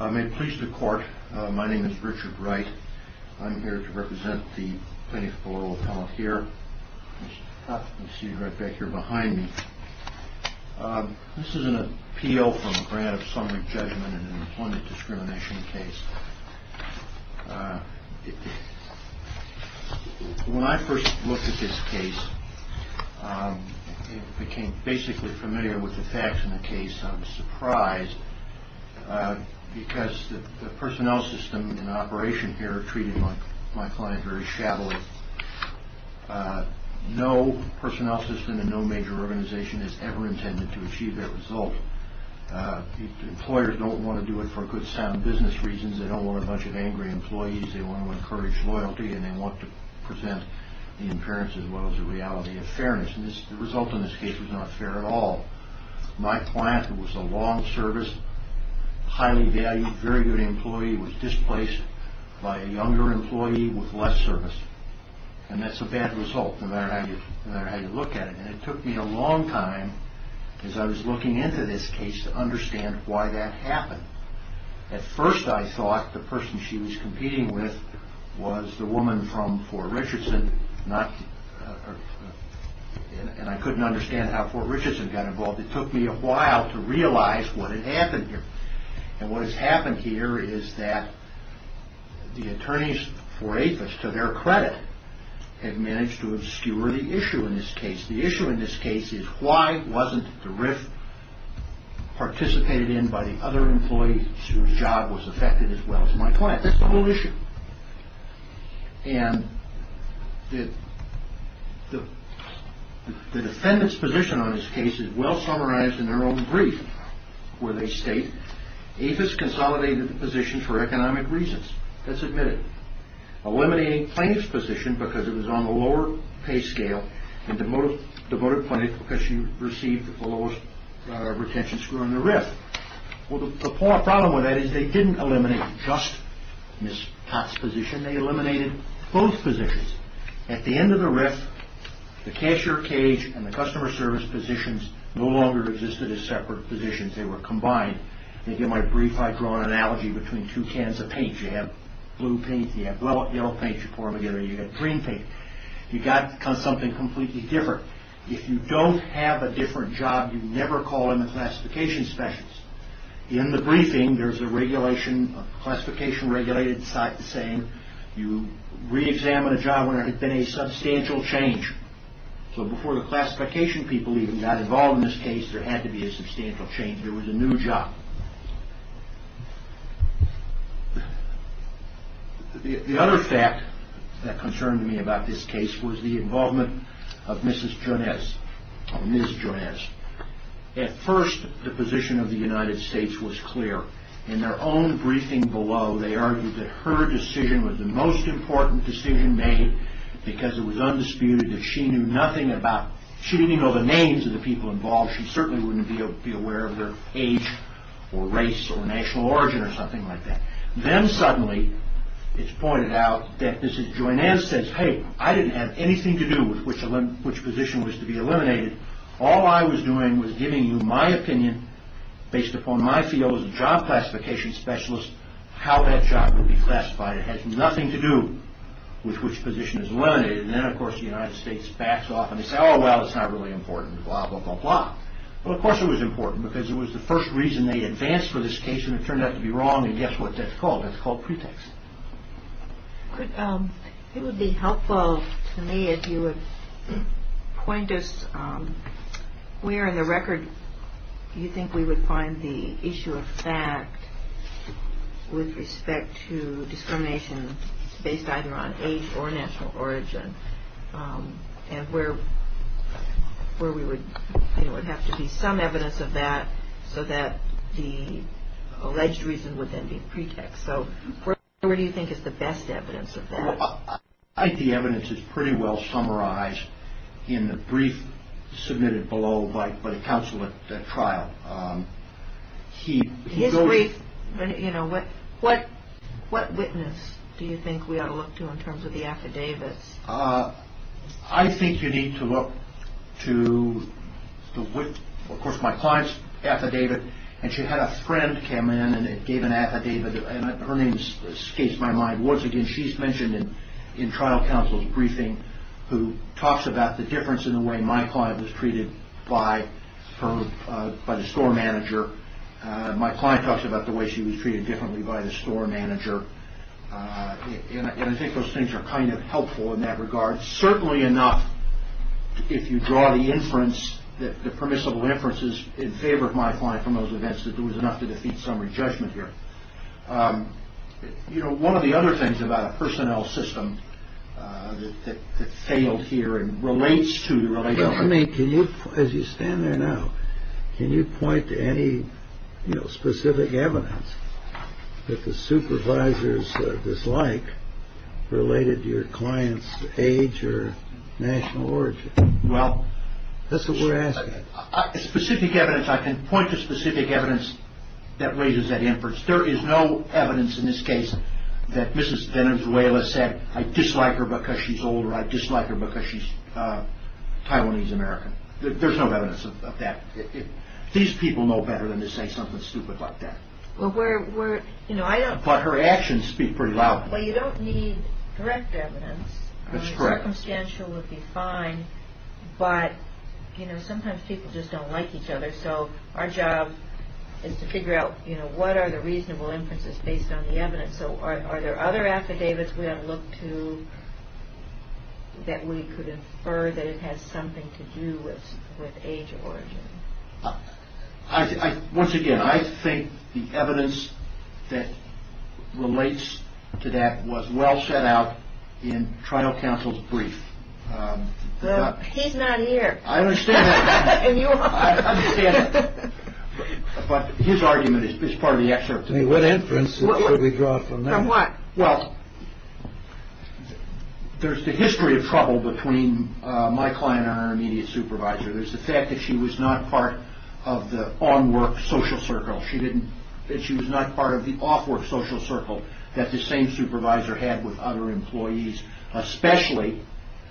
May it please the court, my name is Richard Wright. I'm here to represent the plaintiff's parole appellant here. You can see him right back here behind me. This is an appeal for a grant of summary judgment in an employment discrimination case. When I first looked at this case, I became basically familiar with the facts in the case. I was surprised because the personnel system and operation here are treating my client very shabbily. No personnel system and no major organization is ever intended to achieve that result. Employers don't want to do it for good sound business reasons. They don't want a bunch of angry employees. They want to encourage loyalty and they want to present the appearance as well as the reality of fairness. The result in this case was not fair at all. My client was a long service, highly valued, very good employee, was displaced by a younger employee with less service. That's a bad result no matter how you look at it. It took me a long time as I was looking into this case to understand why that happened. At first I thought the person she was competing with was the woman from Fort Richardson and I couldn't understand how Fort Richardson got involved. It took me a while to realize what had happened here. What has happened here is that the attorneys for APHIS, to their credit, have managed to obscure the issue in this case. The issue in this case is why wasn't the RIF participated in by the other employee whose job was affected as well as my client. That's the whole issue. The defendant's position on this case is well summarized in their own brief where they state APHIS consolidated the position for economic reasons. That's admitted. Eliminating plaintiff's position because it was on the lower pay scale and demoted plaintiff because she received the lowest retention score on the RIF. The problem with that is they didn't eliminate just Ms. Potts' position. They eliminated both positions. At the end of the RIF, the cashier cage and the customer service positions no longer existed as separate positions. They were combined. In my brief, I draw an analogy between two cans of paint. You have blue paint, you have green paint. You have something completely different. If you don't have a different job, you never call in the classification specialists. In the briefing, there's a classification regulated saying you re-examine a job where there has been a substantial change. So before the classification people even got involved in this case, there had to be a substantial change. There was a new job. The other fact that concerned me was the fact was the involvement of Ms. Jonez. At first, the position of the United States was clear. In their own briefing below, they argued that her decision was the most important decision made because it was undisputed that she knew nothing about, she didn't even know the names of the people involved. She certainly wouldn't be aware of their age or race or national Anyway, I didn't have anything to do with which position was to be eliminated. All I was doing was giving you my opinion based upon my field as a job classification specialist, how that job would be classified. It had nothing to do with which position is eliminated. Then of course, the United States backs off and they say, oh, well, it's not really important, blah, blah, blah, blah. Well, of course it was important because it was the first reason they advanced for this case and it turned out to be wrong and guess what that's called? It's called pretext. It would be helpful to me if you would point us where in the record you think we would find the issue of fact with respect to discrimination based either on age or national origin and where we would have to be some evidence of that so that the alleged reason would then be pretext. So, where do you think is the best evidence of that? I think the evidence is pretty well summarized in the brief submitted below by the counsel at the trial. His brief, you know, what witness do you think we ought to look to in terms of the affidavits? I think you need to look to, of course, my client's affidavit and she had a friend come in and gave an affidavit and her name escapes my mind. Once again, she's mentioned in trial counsel's briefing who talks about the difference in the way my client was treated by the store manager. My client talks about the way she was treated differently by the store manager and I think those things are kind of helpful in that regard. Certainly enough, if you draw the inference, the permissible inferences in favor of my client, you have to defeat some re-judgment here. You know, one of the other things about a personnel system that failed here and relates to... Well, I mean, can you, as you stand there now, can you point to any, you know, specific evidence that the supervisors dislike related to your client's age or national origin? Well... That's what we're asking. Specific evidence, I can point to specific evidence that raises that inference. There is no evidence in this case that Mrs. Venezuela said, I dislike her because she's older, I dislike her because she's Taiwanese-American. There's no evidence of that. These people know better than to say something stupid like that. Well, we're, you know, I don't... But her actions speak pretty loudly. Well, you don't need direct evidence. That's correct. Circumstantial would be fine, but, you know, sometimes people just don't like each other, so our job is to figure out, you know, what are the reasonable inferences based on the evidence, so are there other affidavits we have to look to that we could infer that it has something to do with age or origin? Once again, I think the evidence that relates to that was well set out in trial counsel's brief. He's not here. I understand that. And you are. I understand that. But his argument is part of the excerpt. What inference should we draw from that? From what? Well, there's the history of trouble between my client and her immediate supervisor. There's the fact that she was not part of the on-work social circle. She didn't... She was not part of the off-work social circle that the same supervisor had with other employees, especially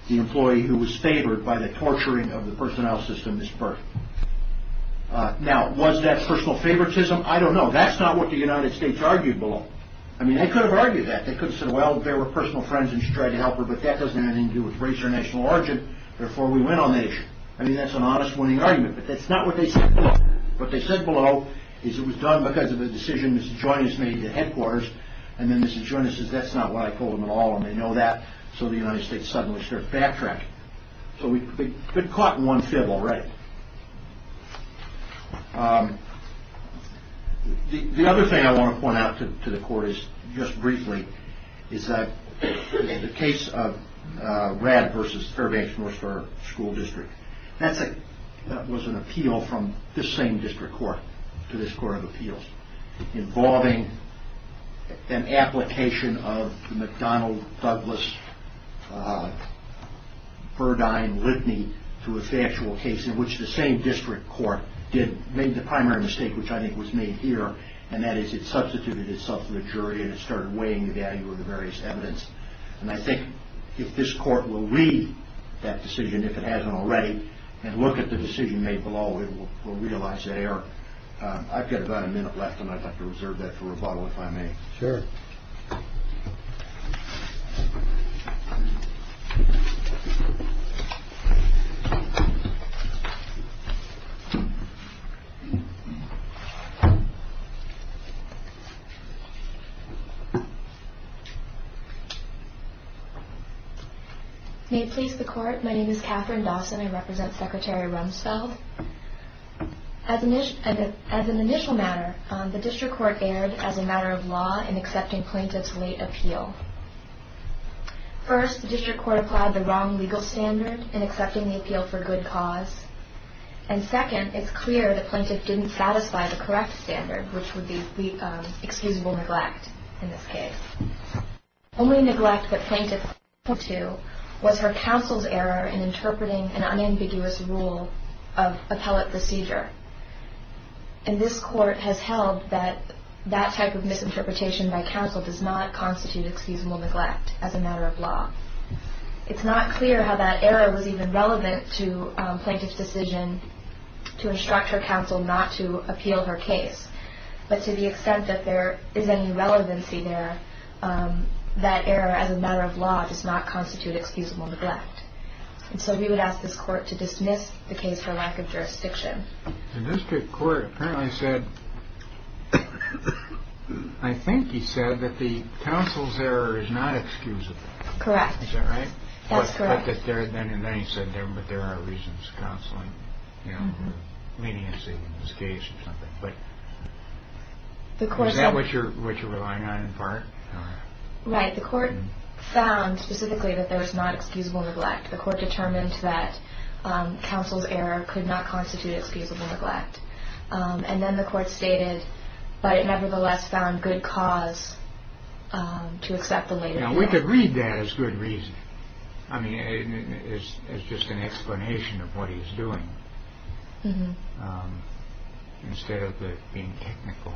the employee who was favored by the torturing of the personnel system at birth. Now, was that personal favoritism? I don't know. That's not what the United States argued below. I mean, they could have argued that. They could have said, well, they were personal friends and she tried to help her, but that doesn't have anything to do with race or national origin, therefore we went on the issue. I mean, that's an honest winning argument, but that's not what they said below. What they said below is it was done because of a decision Mrs. Joines made at headquarters, and then Mrs. Joines says that's not what I told them at all, and they know that, so the United States suddenly starts backtracking. So we've been caught in one fib already. The other thing I want to point out to the court is, just briefly, is that in the case of RAD versus Fairbanks-Northstar School District, that was an appeal from this same district court to this court of appeals involving an application of McDonnell-Douglas-Burdine-Lidney to a factual case in which the same district court made the primary mistake, which I think was made here, and that is it substituted itself to the jury and it started weighing the value of the various evidence, and I think if this court will read that decision, if it hasn't already, and look at the decision made below, it will realize that error. I've got about a minute left and I'd like to reserve that for rebuttal if I may. Sure. May it please the court, my name is Katherine Dawson, I represent Secretary Rumsfeld. As an initial matter, the district court erred as a matter of law in accepting plaintiff's late appeal. First, the district court applied the wrong legal standard in accepting the appeal for good cause. And second, it's clear the plaintiff didn't satisfy the correct standard, which would be excusable neglect in this case. Only neglect that plaintiff pointed to was her counsel's error in interpreting an unambiguous rule of appellate procedure. And this court has held that that type of misinterpretation by counsel does not constitute excusable neglect as a matter of law. It's not clear how that error was even relevant to plaintiff's decision to instruct her counsel not to appeal her case, but to the extent that there is any relevancy there, that error as a matter of law does not constitute excusable neglect. And so we would ask this court to dismiss the case for lack of jurisdiction. The district court apparently said, I think he said that the counsel's error is not excusable. Correct. Is that right? That's correct. But then he said there are reasons counseling, leniency in this case or something. But is that what you're relying on in part? Right. The court found specifically that there was not excusable neglect. The court determined that counsel's error could not constitute excusable neglect. And then the court stated, but it nevertheless found good cause to accept the later. Now, we could read that as good reason. I mean, it's just an explanation of what he's doing instead of it being technical.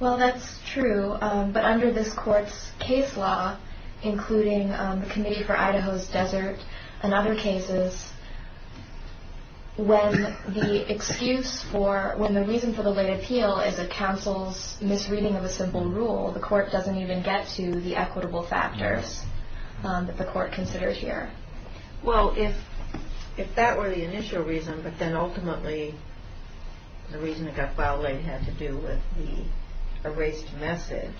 Well, that's true. But under this court's case law, including the Committee for Idaho's Desert and other cases, when the excuse for when the reason for the late appeal is a counsel's misreading of a simple rule, the court doesn't even get to the equitable factors that the court considers here. Well, if that were the initial reason, but then ultimately the reason it got filed late had to do with the erased message,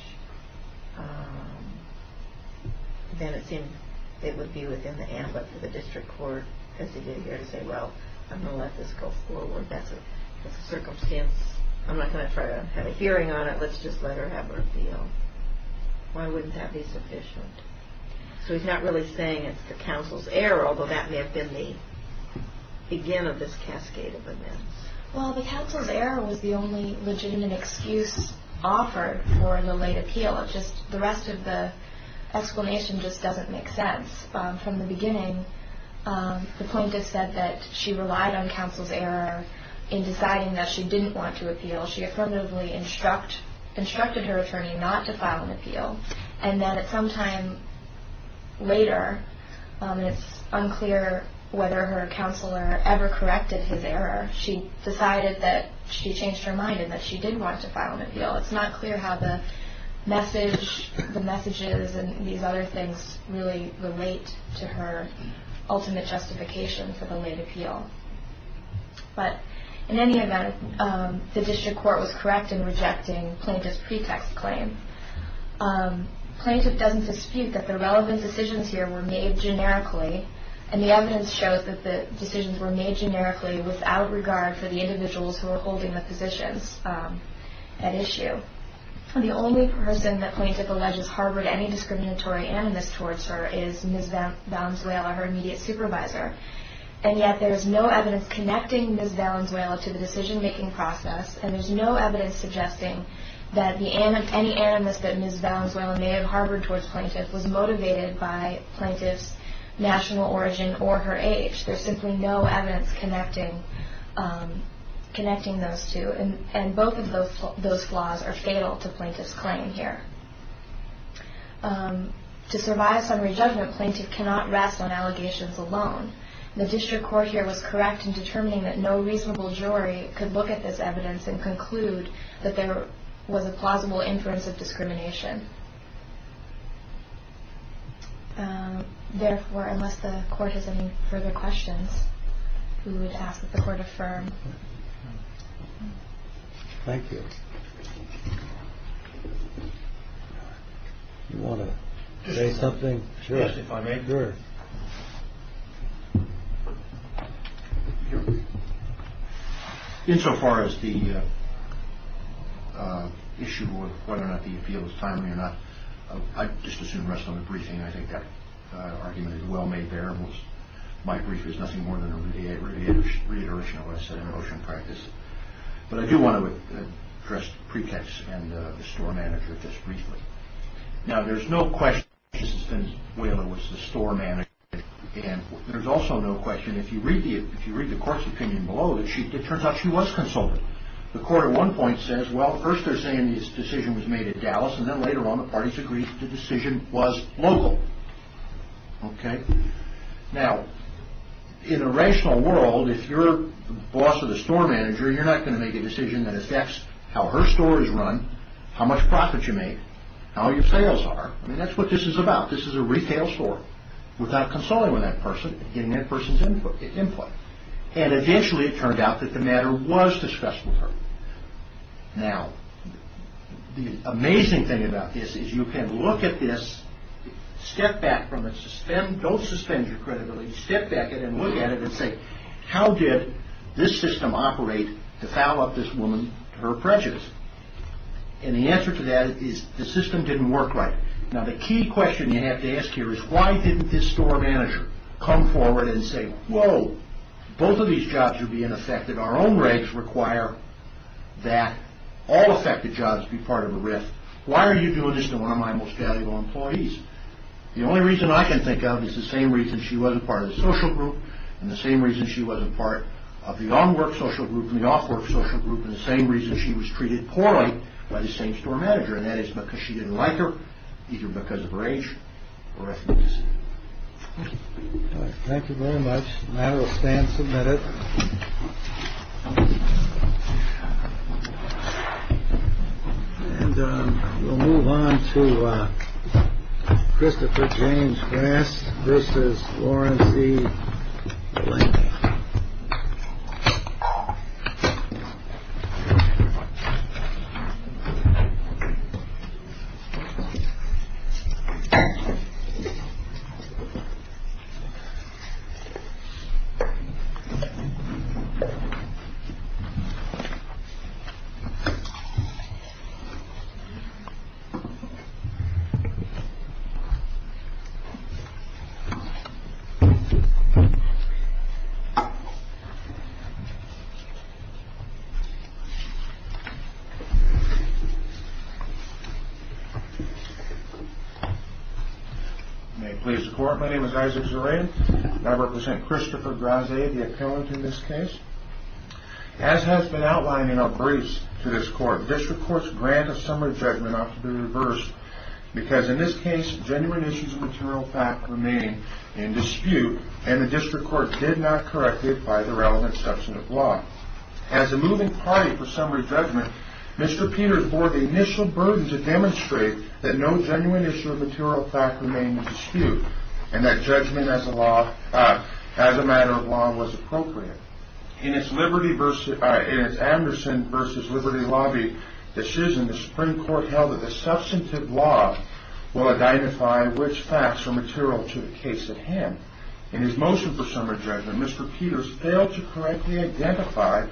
then it seemed it would be within the ambit of the district court as to get here to say, well, I'm going to let this go forward. That's a circumstance. I'm not going to try to have a hearing on it. Let's just let her have her appeal. Why wouldn't that be sufficient? So he's not really saying it's the counsel's error, although that may have been the beginning of this cascade of events. Well, the counsel's error was the only legitimate excuse offered for the late appeal. The rest of the explanation just doesn't make sense. From the beginning, the plaintiff said that she relied on counsel's error in deciding that she didn't want to appeal. She affirmatively instructed her attorney not to file an appeal, and then at some time later, it's unclear whether her counselor ever corrected his error. She decided that she changed her mind and that she did want to file an appeal. It's not clear how the message, the messages and these other things really relate to her ultimate justification for the late appeal. But in any event, the district court was correct in rejecting plaintiff's pretext claim. Plaintiff doesn't dispute that the relevant decisions here were made generically, and the evidence shows that the decisions were made generically without regard for the individuals who were holding the positions at issue. The only person that plaintiff alleges harbored any discriminatory animus towards her is Ms. Valenzuela, her immediate supervisor, and yet there is no evidence connecting Ms. Valenzuela to the decision-making process, and there's no evidence suggesting that any animus that Ms. Valenzuela may have harbored towards plaintiff was motivated by plaintiff's national origin or her age. There's simply no evidence connecting those two, and both of those flaws are fatal to plaintiff's claim here. To survive summary judgment, plaintiff cannot rest on allegations alone. The district court here was correct in determining that no reasonable jury could look at this evidence and conclude that there was a plausible inference of discrimination. Therefore, unless the court has any further questions, we would ask that the court affirm. Thank you. You want to say something? Yes, if I may. Insofar as the issue of whether or not the appeal is timely or not, I'd just as soon rest on the briefing. I think that argument is well made there. My brief is nothing more than a reiteration of what I said in motion practice, but I do want to address pretext and the store manager just briefly. Now, there's no question that Mrs. Valenzuela was the store manager, and there's also no question, if you read the court's opinion below, that it turns out she was a consultant. The court at one point says, well, first they're saying this decision was made at Dallas, and then later on the parties agreed that the decision was local. Okay? Now, in a rational world, if you're the boss of the store manager, you're not going to make a decision that affects how her store is run, how much profit you make, how your sales are. I mean, that's what this is about. This is a retail store without consulting with that person and getting that person's input. And eventually it turned out that the matter was discussed with her. Now, the amazing thing about this is you can look at this, step back from it, don't suspend your credibility, step back and then look at it and say, how did this system operate to foul up this woman to her prejudice? And the answer to that is the system didn't work right. Now, the key question you have to ask here is why didn't this store manager come forward and say, whoa, both of these jobs are being affected. Our own regs require that all affected jobs be part of the RIF. Why are you doing this to one of my most valuable employees? The only reason I can think of is the same reason she wasn't part of the social group and the same reason she wasn't part of the on-work social group and the off-work social group and the same reason she was treated poorly by the same store manager, and that is because she didn't like her either because of her age or ethnic descent. Thank you very much. Thank you. May it please the court, my name is Isaac Zeray and I represent Christopher Graze, the appellant in this case. As has been outlined in our briefs to this court, district courts grant a summary judgment ought to be reversed because in this case genuine issues of material fact remain in dispute and the district court did not correct it by the relevant substantive law. As a moving party for summary judgment, Mr. Peters bore the initial burden to demonstrate that no genuine issue of material fact remained in dispute and that judgment as a matter of law was appropriate. In its Anderson v. Liberty Lobby decision, the Supreme Court held that the substantive law will identify which facts are material to the case at hand. In his motion for summary judgment, Mr. Peters failed to correctly identify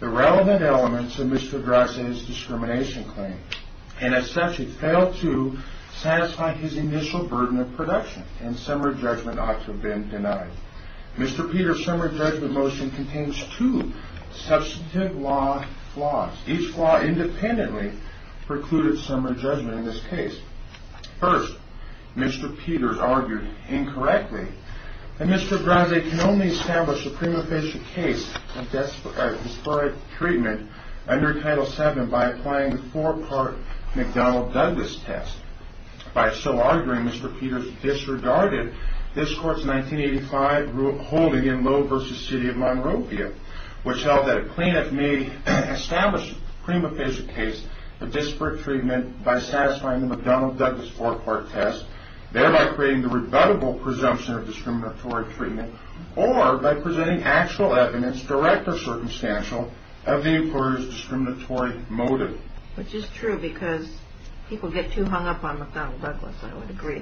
the relevant elements of Mr. Graze's discrimination claim and as such he failed to satisfy his initial burden of production and summary judgment ought to have been denied. Mr. Peters' summary judgment motion contains two substantive law flaws. Each flaw independently precluded summary judgment in this case. First, Mr. Peters argued incorrectly that Mr. Graze can only establish a prima facie case of disparate treatment under Title VII by applying the four-part McDonnell-Douglas test. By so arguing, Mr. Peters disregarded this Court's 1985 ruling in Lowe v. City of Monrovia which held that a plaintiff may establish a prima facie case of disparate treatment by satisfying the McDonnell-Douglas four-part test, thereby creating the rebuttable presumption of discriminatory treatment or by presenting actual evidence direct or circumstantial of the employer's discriminatory motive. Which is true because people get too hung up on McDonnell-Douglas, I would agree.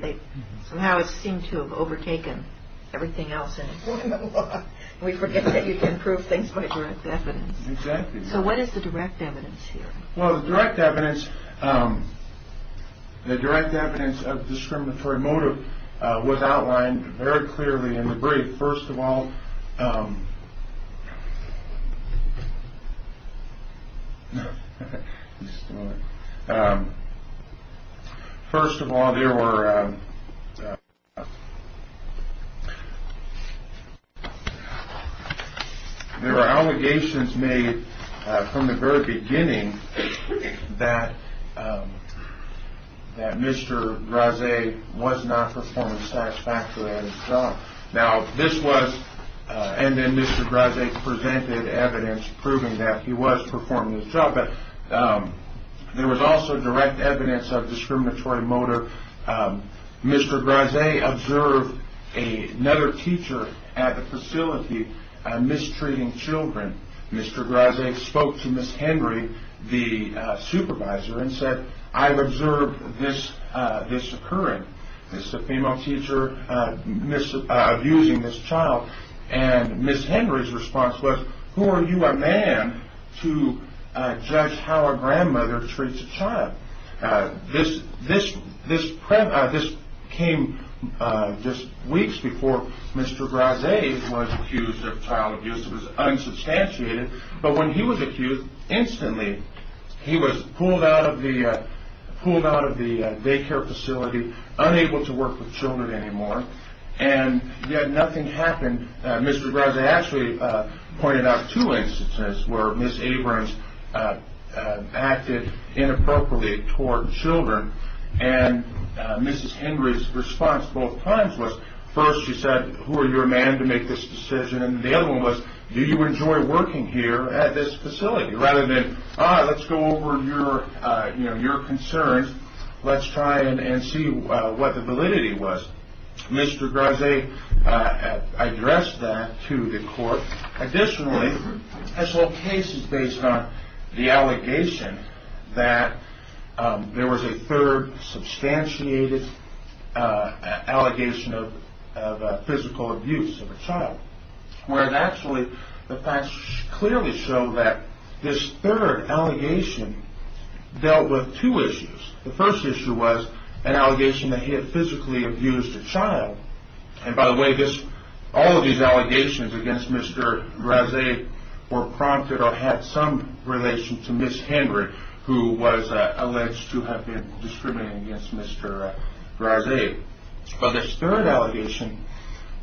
Somehow it seemed to have overtaken everything else in the Court of Law. We forget that you can prove things by direct evidence. Exactly. So what is the direct evidence here? Well, the direct evidence of discriminatory motive was outlined very clearly in the brief. First of all, there were allegations made from the very beginning that Mr. Graze was not performing satisfactory at his job. And then Mr. Graze presented evidence proving that he was performing his job. There was also direct evidence of discriminatory motive. Mr. Graze observed another teacher at the facility mistreating children. Mr. Graze spoke to Ms. Henry, the supervisor, and said, I observed this occurring. This is a female teacher abusing this child. And Ms. Henry's response was, Who are you, a man, to judge how a grandmother treats a child? This came just weeks before Mr. Graze was accused of child abuse. It was unsubstantiated. But when he was accused, instantly he was pulled out of the daycare facility, unable to work with children anymore, and yet nothing happened. Mr. Graze actually pointed out two instances where Ms. Abrams acted inappropriately toward children. And Ms. Henry's response both times was, First, she said, Who are you, a man, to make this decision? And the other one was, Do you enjoy working here at this facility? Rather than, All right, let's go over your concerns. Let's try and see what the validity was. Mr. Graze addressed that to the court. Additionally, this whole case is based on the allegation that there was a third, substantiated allegation of physical abuse of a child, where actually the facts clearly show that this third allegation dealt with two issues. The first issue was an allegation that he had physically abused a child. And by the way, all of these allegations against Mr. Graze were prompted or had some relation to Ms. Henry, who was alleged to have been discriminating against Mr. Graze. But this third allegation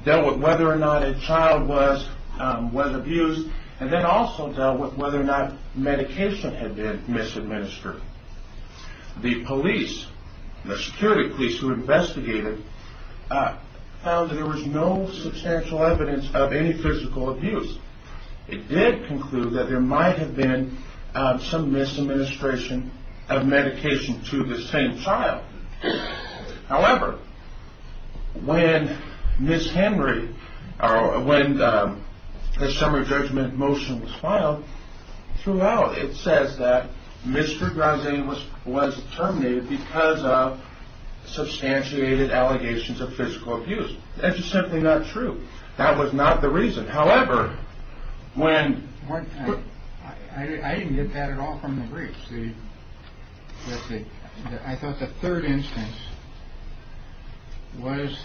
dealt with whether or not a child was abused, and then also dealt with whether or not medication had been misadministered. The police, the security police who investigated, found that there was no substantial evidence of any physical abuse. It did conclude that there might have been some misadministration of medication to the same child. However, when Ms. Henry, or when the summary judgment motion was filed, throughout it says that Mr. Graze was terminated because of substantiated allegations of physical abuse. That is simply not true. That was not the reason. However, when... I didn't get that at all from the briefs. I thought the third instance was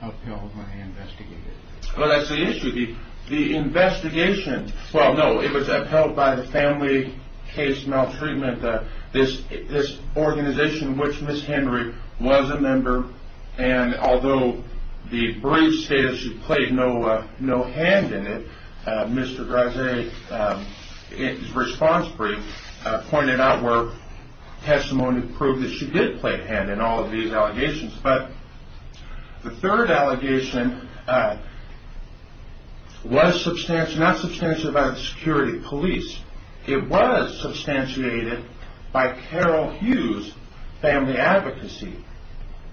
upheld when I investigated. Well, that's the issue. The investigation... Well, no, it was upheld by the Family Case Maltreatment, this organization in which Ms. Henry was a member. And although the brief states she played no hand in it, Mr. Graze's response brief pointed out where testimony proved that she did play a hand in all of these allegations. But the third allegation was not substantiated by the security police. It was substantiated by Carol Hughes' family advocacy.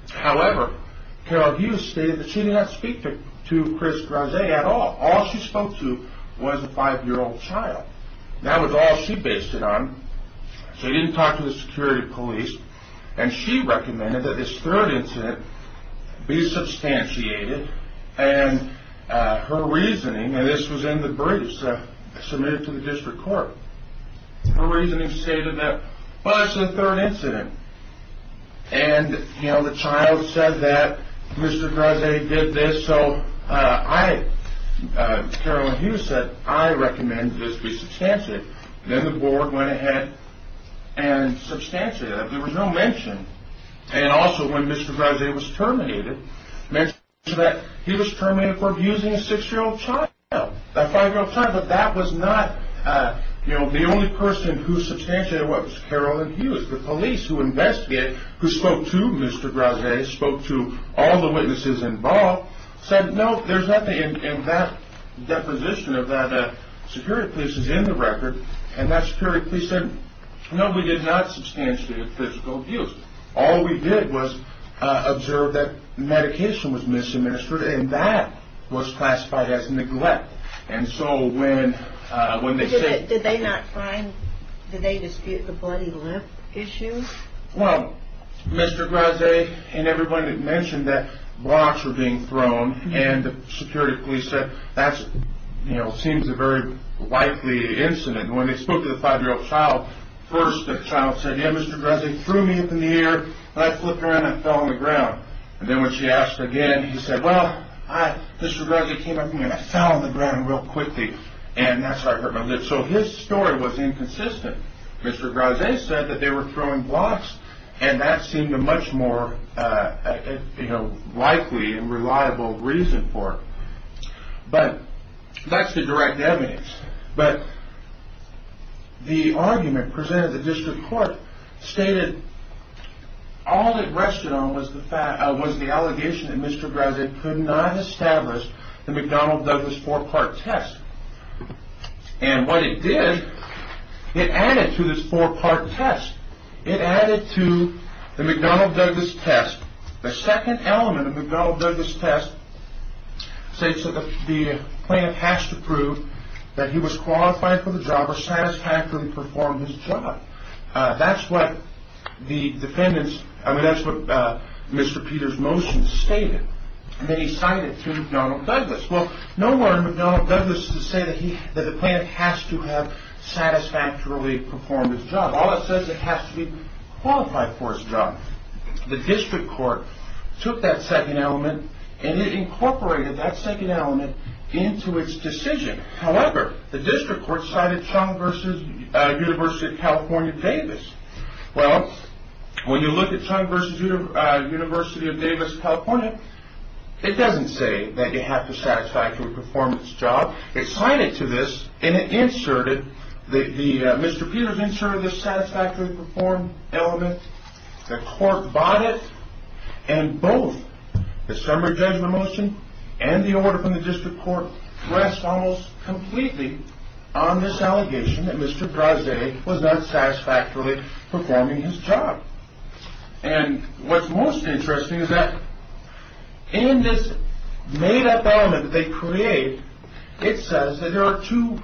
However, Carol Hughes stated that she did not speak to Chris Graze at all. All she spoke to was a five-year-old child. That was all she based it on. So she didn't talk to the security police. And she recommended that this third incident be substantiated. And her reasoning... And this was in the briefs submitted to the district court. Her reasoning stated that, well, it's the third incident. And, you know, the child said that Mr. Graze did this, so I... Carol Hughes said, I recommend this be substantiated. Then the board went ahead and substantiated it. There was no mention. And also when Mr. Graze was terminated, mentioned that he was terminated for abusing a six-year-old child, a five-year-old child. But that was not, you know, the only person who substantiated it was Carol Hughes. The police who investigated, who spoke to Mr. Graze, spoke to all the witnesses involved, said, no, there's nothing in that deposition of that. Security police is in the record. And that security police said, no, we did not substantiate a physical abuse. All we did was observe that medication was misadministered. And that was classified as neglect. And so when they said... Did they not find, did they dispute the bloody lip issue? Well, Mr. Graze and everybody had mentioned that blocks were being thrown. And the security police said, that's, you know, seems a very likely incident. When they spoke to the five-year-old child, first the child said, yeah, Mr. Graze threw me up in the air. And I flipped around and fell on the ground. And then when she asked again, he said, well, Mr. Graze came up to me and I fell on the ground real quickly. And that's how I hurt my lip. So his story was inconsistent. Mr. Graze said that they were throwing blocks. And that seemed a much more, you know, likely and reliable reason for it. But that's the direct evidence. But the argument presented at the district court stated all it rested on was the fact, was the allegation that Mr. Graze could not establish the McDonnell-Douglas four-part test. And what it did, it added to this four-part test. It added to the McDonnell-Douglas test. The second element of the McDonnell-Douglas test states that the plant has to prove that he was qualified for the job or satisfactorily performed his job. That's what the defendants, I mean, that's what Mr. Peter's motion stated. And then he cited to McDonnell-Douglas. Well, nowhere in McDonnell-Douglas does it say that the plant has to have satisfactorily performed his job. All it says is it has to be qualified for his job. The district court took that second element and it incorporated that second element into its decision. However, the district court cited Chung v. University of California, Davis. Well, when you look at Chung v. University of Davis, California, it doesn't say that you have to satisfactorily perform his job. It cited to this and it inserted, Mr. Peter's inserted the satisfactorily performed element. The court bought it. And both the summary judgment motion and the order from the district court rest almost completely on this allegation that Mr. Brazee was not satisfactorily performing his job. And what's most interesting is that in this made-up element that they create, it says that there are two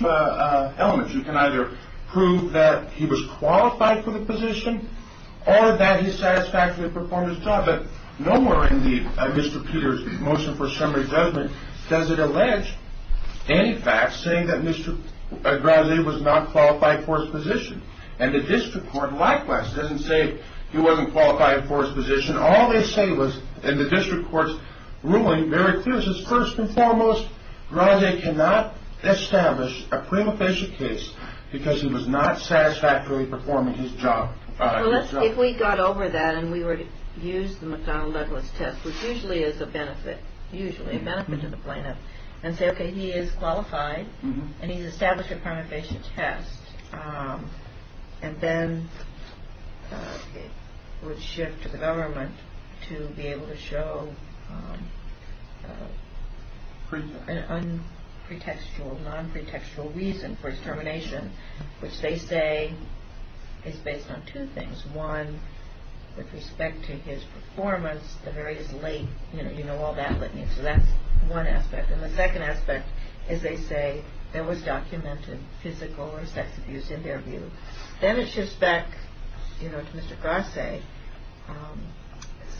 elements. You can either prove that he was qualified for the position or that he satisfactorily performed his job. But nowhere in Mr. Peter's motion for summary judgment does it allege any facts saying that Mr. Brazee was not qualified for his position. And the district court, likewise, doesn't say he wasn't qualified for his position. All they say was in the district court's ruling, there are a few. It says, first and foremost, Brazee cannot establish a prima facie case because he was not satisfactorily performing his job. If we got over that and we were to use the McDonnell-Ledlis test, which usually is a benefit, usually a benefit to the plaintiff, and say, okay, he is qualified and he's established a prima facie test, and then it would shift to the government to be able to show an unpretextual, non-pretextual reason for his termination, which they say is based on two things. One, with respect to his performance, the very late, you know, all that litany. So that's one aspect. And the second aspect is they say there was documented physical or sex abuse in their view. Then it shifts back, you know, to Mr. Brazee.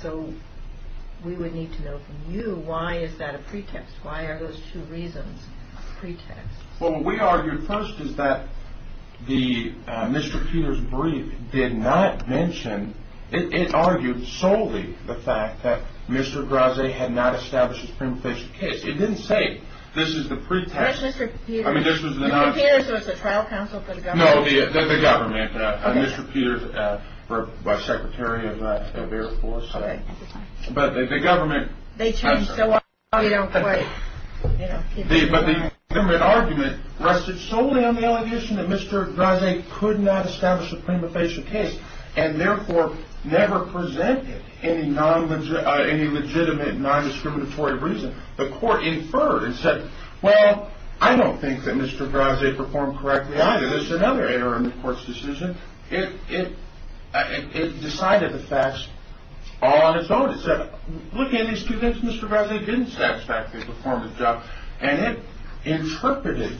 So we would need to know from you, why is that a pretext? Why are those two reasons a pretext? Well, what we argued first is that Mr. Peter's brief did not mention, it argued solely the fact that Mr. Brazee had not established his prima facie case. It didn't say this is the pretext. Yes, Mr. Peter's. I mean, this was the non- Mr. Peter's was the trial counsel for the government. No, the government, Mr. Peter's, by Secretary of Air Force. Okay. But the government- They changed so often, you don't quite, you know. But the government argument rested solely on the allegation that Mr. Brazee could not establish a prima facie case and therefore never presented any legitimate non-discriminatory reason. The court inferred and said, well, I don't think that Mr. Brazee performed correctly either. This is another interim court's decision. It decided the facts all on its own. It said, look, in these two things, Mr. Brazee didn't satisfactorily perform his job. And it interpreted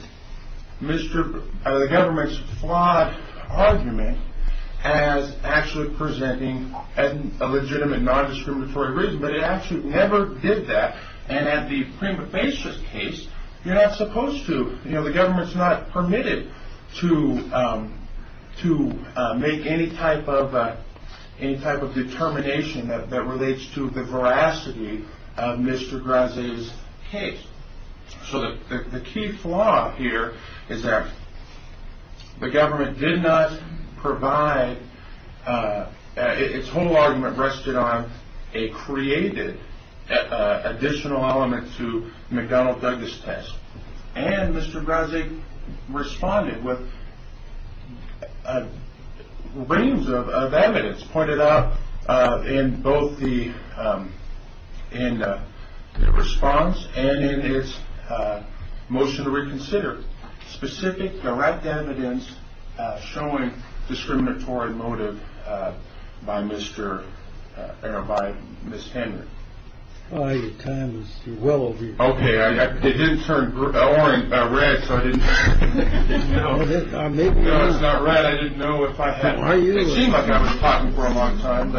the government's flawed argument as actually presenting a legitimate non-discriminatory reason, but it actually never did that. And at the prima facie case, you're not supposed to, you know, the government's not permitted to make any type of determination that relates to the veracity of Mr. Brazee's case. So the key flaw here is that the government did not provide, its whole argument rested on a created additional element to McDonnell-Douglas test. And Mr. Brazee responded with a range of evidence pointed out in both the response and in his motion to reconsider specific direct evidence showing discriminatory motive by Mr. or by Ms. Henry. Well, your time is well over. OK, I didn't turn red so I didn't know. I didn't know if I had. It seemed like I was talking for a long time.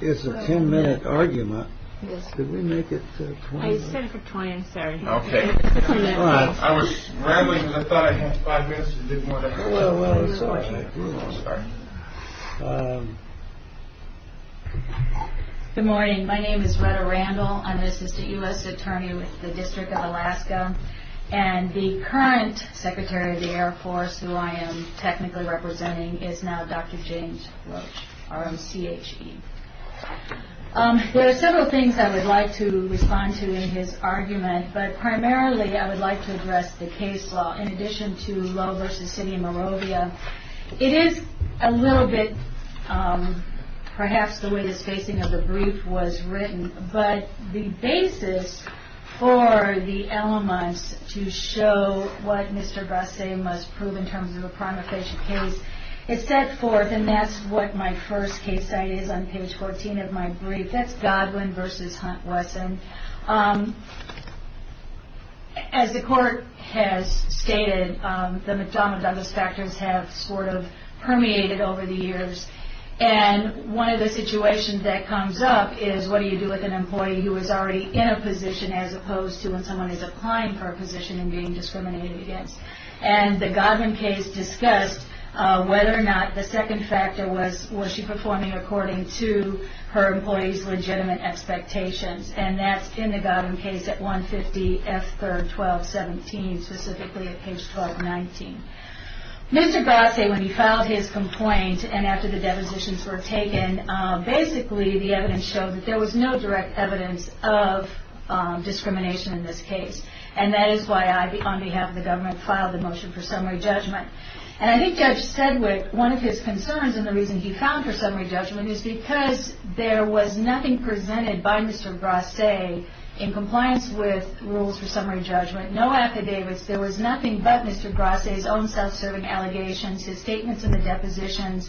It's a ten minute argument. Yes, we make it for time. Sorry. OK. I was rambling. I thought I had five minutes to do more. Good morning. My name is Rhetta Randall. I'm assistant U.S. attorney with the District of Alaska. And the current secretary of the Air Force who I am technically representing is now Dr. James R.M.C.H.E. There are several things I would like to respond to in his argument, but primarily I would like to address the case law in addition to Lowe v. City of Moravia. It is a little bit perhaps the way the spacing of the brief was written, but the basis for the elements to show what Mr. Brazee must prove in terms of a prima facie case, it set forth, and that's what my first case study is on page 14 of my brief, that's Godwin v. Hunt-Wesson. As the court has stated, the McDonough Douglas factors have sort of permeated over the years, and one of the situations that comes up is what do you do with an employee who is already in a position as opposed to when someone is applying for a position and being discriminated against. And the Godwin case discussed whether or not the second factor was, was she performing according to her employee's legitimate expectations, and that's in the Godwin case at 150 F. 3rd, 1217, specifically at page 1219. Mr. Gosset, when he filed his complaint and after the depositions were taken, basically the evidence showed that there was no direct evidence of discrimination in this case, and that is why I, on behalf of the government, filed the motion for summary judgment. And I think Judge Sedwick, one of his concerns and the reason he filed for summary judgment is because there was nothing presented by Mr. Gosset in compliance with rules for summary judgment, no affidavits, there was nothing but Mr. Gosset's own self-serving allegations, his statements in the depositions,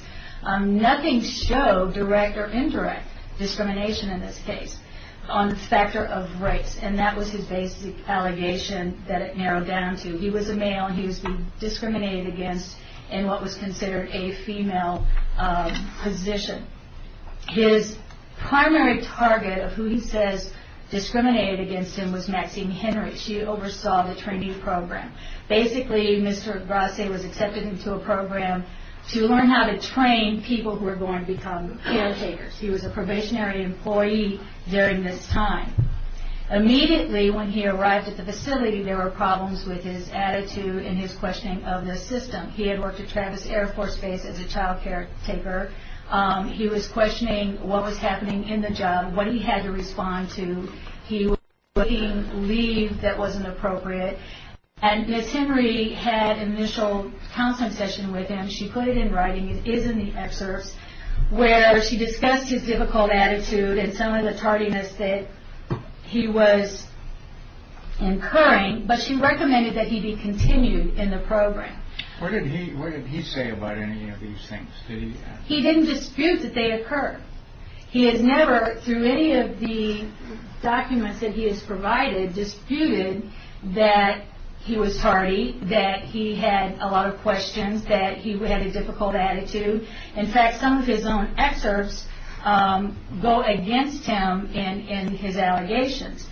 nothing showed direct or indirect discrimination in this case on the factor of race, and that was his basic allegation that it narrowed down to. He was a male and he was being discriminated against in what was considered a female position. His primary target of who he says discriminated against him was Maxine Henry. She oversaw the trainee program. Basically, Mr. Gosset was accepted into a program to learn how to train people who were going to become caretakers. He was a probationary employee during this time. Immediately when he arrived at the facility, there were problems with his attitude and his questioning of the system. He had worked at Travis Air Force Base as a child caretaker. He was questioning what was happening in the job, what he had to respond to. He was looking for leave that wasn't appropriate. And Ms. Henry had an initial counseling session with him. She put it in writing, it is in the excerpts, where she discussed his difficult attitude and some of the tardiness that he was incurring, but she recommended that he be continued in the program. Where did he say about any of these things? He didn't dispute that they occurred. He has never, through any of the documents that he has provided, disputed that he was tardy, that he had a lot of questions, that he had a difficult attitude. In fact, some of his own excerpts go against him in his allegations.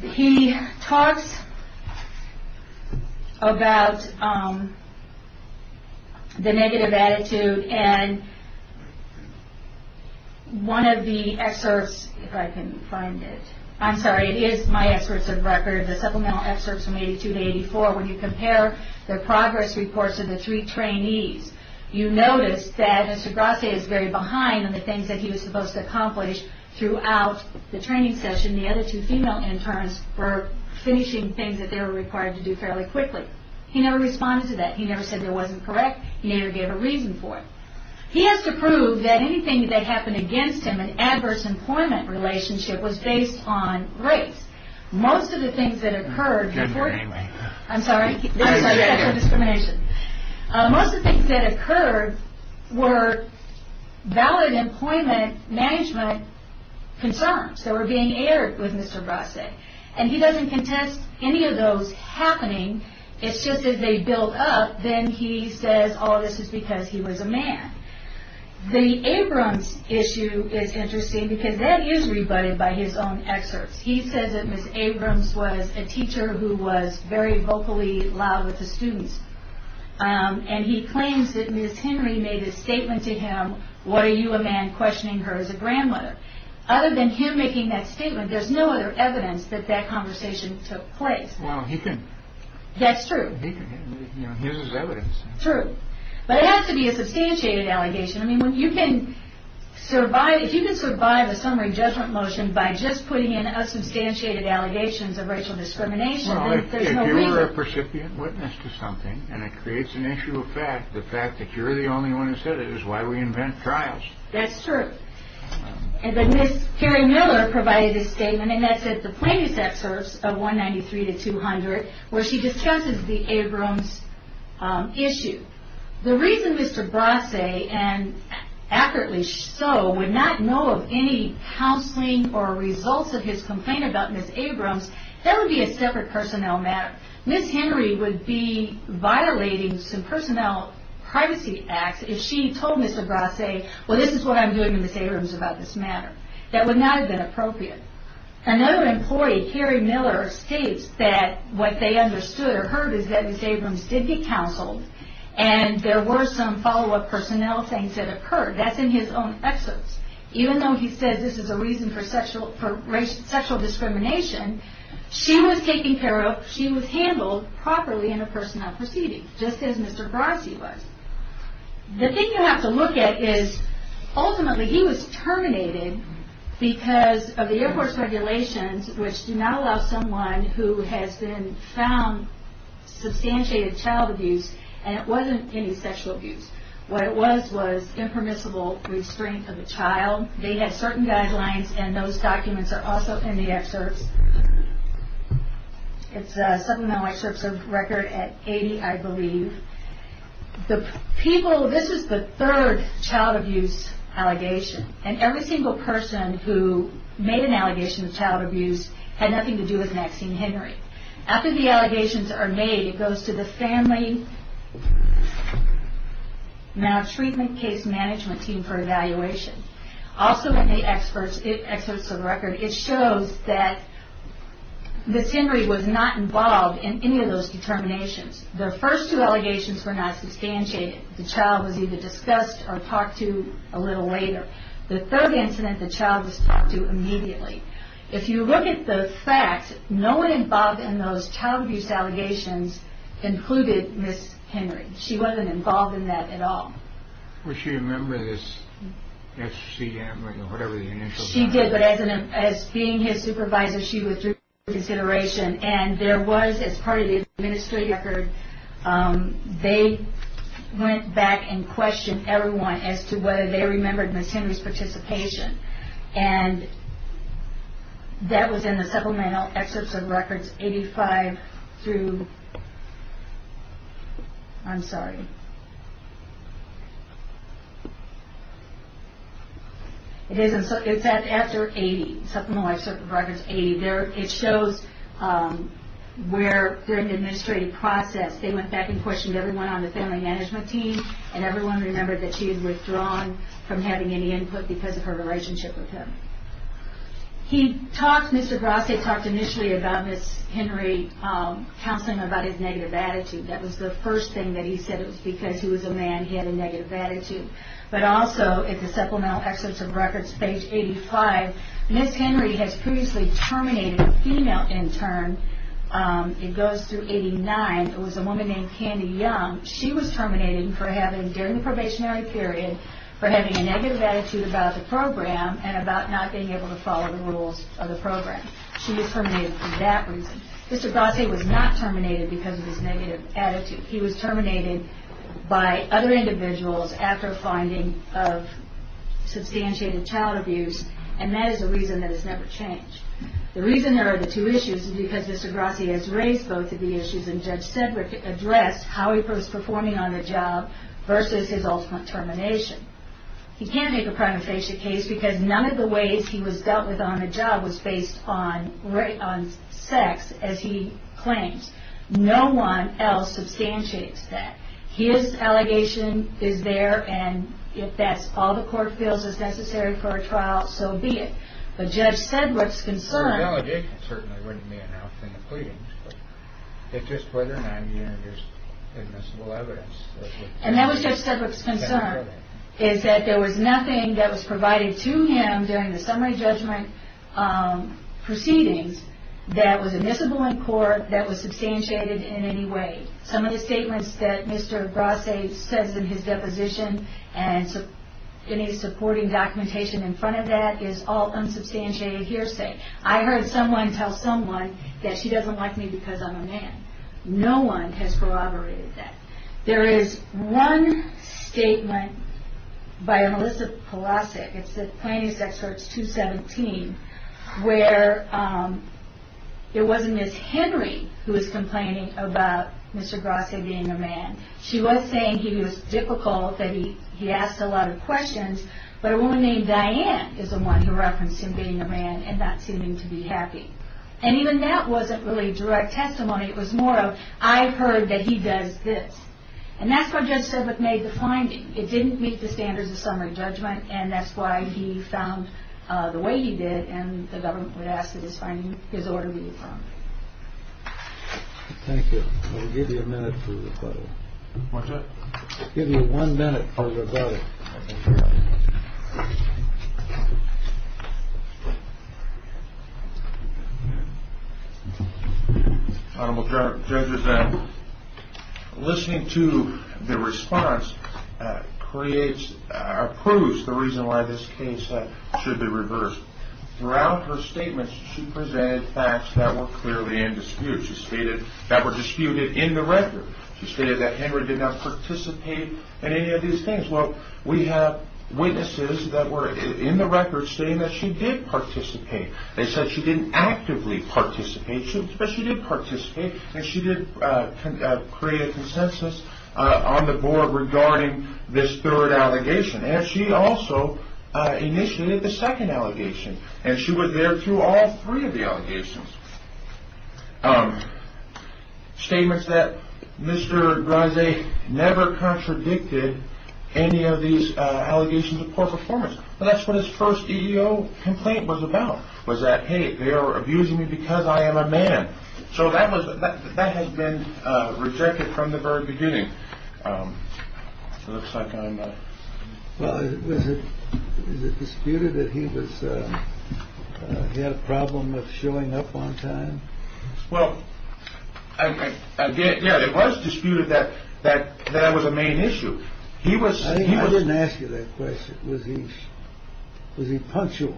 He talks about the negative attitude and one of the excerpts, if I can find it, I'm sorry, it is my excerpts of record, the supplemental excerpts from 82 to 84, when you compare the progress reports of the three trainees, you notice that Mr. Grasse is very behind on the things that he was supposed to accomplish throughout the training session. The other two female interns were finishing things that they were required to do fairly quickly. He never responded to that. He never said it wasn't correct. He never gave a reason for it. He has to prove that anything that happened against him, in an adverse employment relationship, was based on race. Most of the things that occurred were valid employment management concerns that were being aired with Mr. Grasse. And he doesn't contest any of those happening. It's just that they build up, then he says, oh, this is because he was a man. The Abrams issue is interesting because that is rebutted by his own excerpts. He says that Ms. Abrams was a teacher who was very vocally loud with the students. And he claims that Ms. Henry made a statement to him, what are you, a man, questioning her as a grandmother? Other than him making that statement, there's no other evidence that that conversation took place. That's true. Here's his evidence. True. But it has to be a substantiated allegation. I mean, if you can survive a summary judgment motion by just putting in substantiated allegations of racial discrimination, there's no reason. Well, if you were a percipient witness to something, and it creates an issue of fact, the fact that you're the only one who said it is why we invent trials. That's true. And then Ms. Perry Miller provided a statement, and that's in the plaintiffs' excerpts of 193 to 200, where she discusses the Abrams issue. The reason Mr. Brasse, and accurately so, would not know of any counseling or results of his complaint about Ms. Abrams, that would be a separate personnel matter. Ms. Henry would be violating some personnel privacy acts if she told Mr. Brasse, well, this is what I'm doing to Ms. Abrams about this matter. That would not have been appropriate. Another employee, Carrie Miller, states that what they understood or heard is that Ms. Abrams did get counseled, and there were some follow-up personnel things that occurred. That's in his own excerpts. Even though he said this is a reason for sexual discrimination, she was taken care of, she was handled properly in a personnel proceeding, just as Mr. Brasse was. The thing you have to look at is, ultimately, he was terminated because of the Air Force regulations, which do not allow someone who has been found substantiated child abuse, and it wasn't any sexual abuse. What it was was impermissible restraint of a child. They had certain guidelines, and those documents are also in the excerpts. It's something on my search record at 80, I believe. This is the third child abuse allegation, and every single person who made an allegation of child abuse had nothing to do with Maxine Henry. After the allegations are made, it goes to the family maltreatment case management team for evaluation. Also, in the excerpts of the record, it shows that Ms. Henry was not involved in any of those determinations. The first two allegations were not substantiated. The child was either discussed or talked to a little later. The third incident, the child was talked to immediately. If you look at the facts, no one involved in those child abuse allegations included Ms. Henry. She wasn't involved in that at all. Well, she remembered as CM, or whatever the initials were. She did, but as being his supervisor, she withdrew consideration, and there was, as part of the administrative record, they went back and questioned everyone as to whether they remembered Ms. Henry's participation, and that was in the supplemental excerpts of records 85 through... I'm sorry. It's after 80, supplemental excerpts of records 80. It shows where, during the administrative process, they went back and questioned everyone on the family management team, and everyone remembered that she had withdrawn from having any input because of her relationship with him. He talked, Mr. Grasse talked initially about Ms. Henry, counseling about his negative attitude. That was the first thing that he said, it was because he was a man, he had a negative attitude. But also, in the supplemental excerpts of records, page 85, Ms. Henry has previously terminated a female intern. It goes through 89. It was a woman named Candy Young. She was terminated for having, during the probationary period, for having a negative attitude about the program and about not being able to follow the rules of the program. She was terminated for that reason. Mr. Grasse was not terminated because of his negative attitude. He was terminated by other individuals after finding of substantiated child abuse, and that is a reason that has never changed. The reason there are the two issues is because Mr. Grasse has raised both of the issues, and Judge Sedgwick addressed how he was performing on the job versus his ultimate termination. He can't make a prima facie case because none of the ways he was dealt with on the job was based on sex, as he claims. No one else substantiates that. His allegation is there, and if that's all the court feels is necessary for a trial, so be it. But Judge Sedgwick's concern... The allegation certainly wouldn't be enough in the pleadings. It's just whether or not there's admissible evidence. And that was Judge Sedgwick's concern, is that there was nothing that was provided to him during the summary judgment proceedings that was admissible in court, that was substantiated in any way. Some of the statements that Mr. Grasse says in his deposition and any supporting documentation in front of that is all unsubstantiated hearsay. I heard someone tell someone that she doesn't like me because I'm a man. No one has corroborated that. There is one statement by Melissa Pulasik, it's the Plaintiff's Excerpt 217, where it wasn't Miss Henry who was complaining about Mr. Grasse being a man. She was saying he was difficult, that he asked a lot of questions, but a woman named Diane is the one who referenced him being a man and not seeming to be happy. And even that wasn't really direct testimony. It was more of, I heard that he does this. And that's what Judge Sedgwick made the finding. It didn't meet the standards of summary judgment, and that's why he found the way he did, and the government would ask that his finding be affirmed. Thank you. I'll give you a minute for rebuttal. What's that? I'll give you one minute for rebuttal. Honorable Judges, listening to the response proves the reason why this case should be reversed. Throughout her statements, she presented facts that were clearly in dispute, that were disputed in the record. She stated that Henry did not participate in any of these things. Well, we have witnesses that were in the record stating that she did participate. They said she didn't actively participate, but she did participate, and she did create a consensus on the board regarding this third allegation. And she also initiated the second allegation, and she was there through all three of the allegations. Statements that Mr. Grise never contradicted any of these allegations of poor performance. That's what his first EEO complaint was about, was that, hey, they are abusing me because I am a man. So that has been rejected from the very beginning. Well, is it disputed that he had a problem of showing up on time? Well, yeah, it was disputed that that was a main issue. I didn't ask you that question. Was he punctual?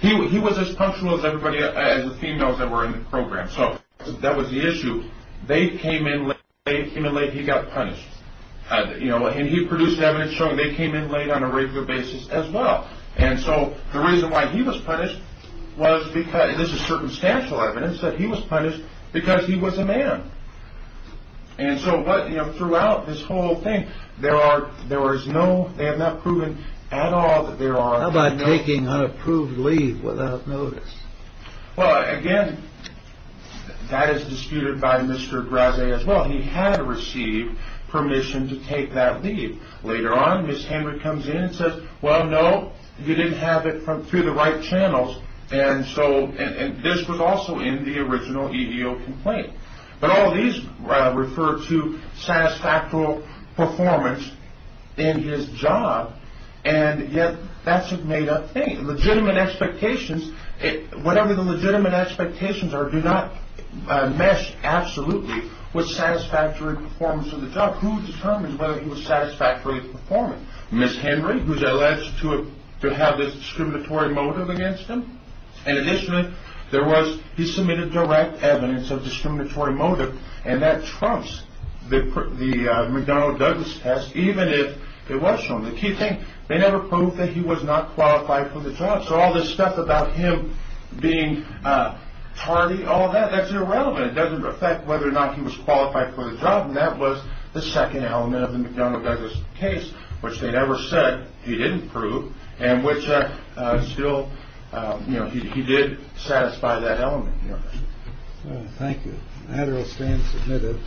He was as punctual as the females that were in the program. So that was the issue. They came in late, he got punished. And he produced evidence showing they came in late on a regular basis as well. And so the reason why he was punished was because, and this is circumstantial evidence, that he was punished because he was a man. And so throughout this whole thing, there was no, they have not proven at all that there are. How about taking unapproved leave without notice? Well, again, that is disputed by Mr. Graze as well. He had received permission to take that leave. Later on, Ms. Henry comes in and says, well, no, you didn't have it through the right channels. And so this was also in the original EEO complaint. But all these refer to satisfactory performance in his job. And yet that's a made up thing. Legitimate expectations, whatever the legitimate expectations are, do not mesh absolutely with satisfactory performance of the job. Who determines whether he was satisfactorily performing? Ms. Henry, who's alleged to have this discriminatory motive against him. In addition, there was, he submitted direct evidence of discriminatory motive, and that trumps the McDonnell-Douglas test, even if it was shown. The key thing, they never proved that he was not qualified for the job. So all this stuff about him being tardy, all that, that's irrelevant. It doesn't affect whether or not he was qualified for the job. And that was the second element of the McDonnell-Douglas case, which they never said he didn't prove, and which still, you know, he did satisfy that element. Thank you. Adderall, stand submitted.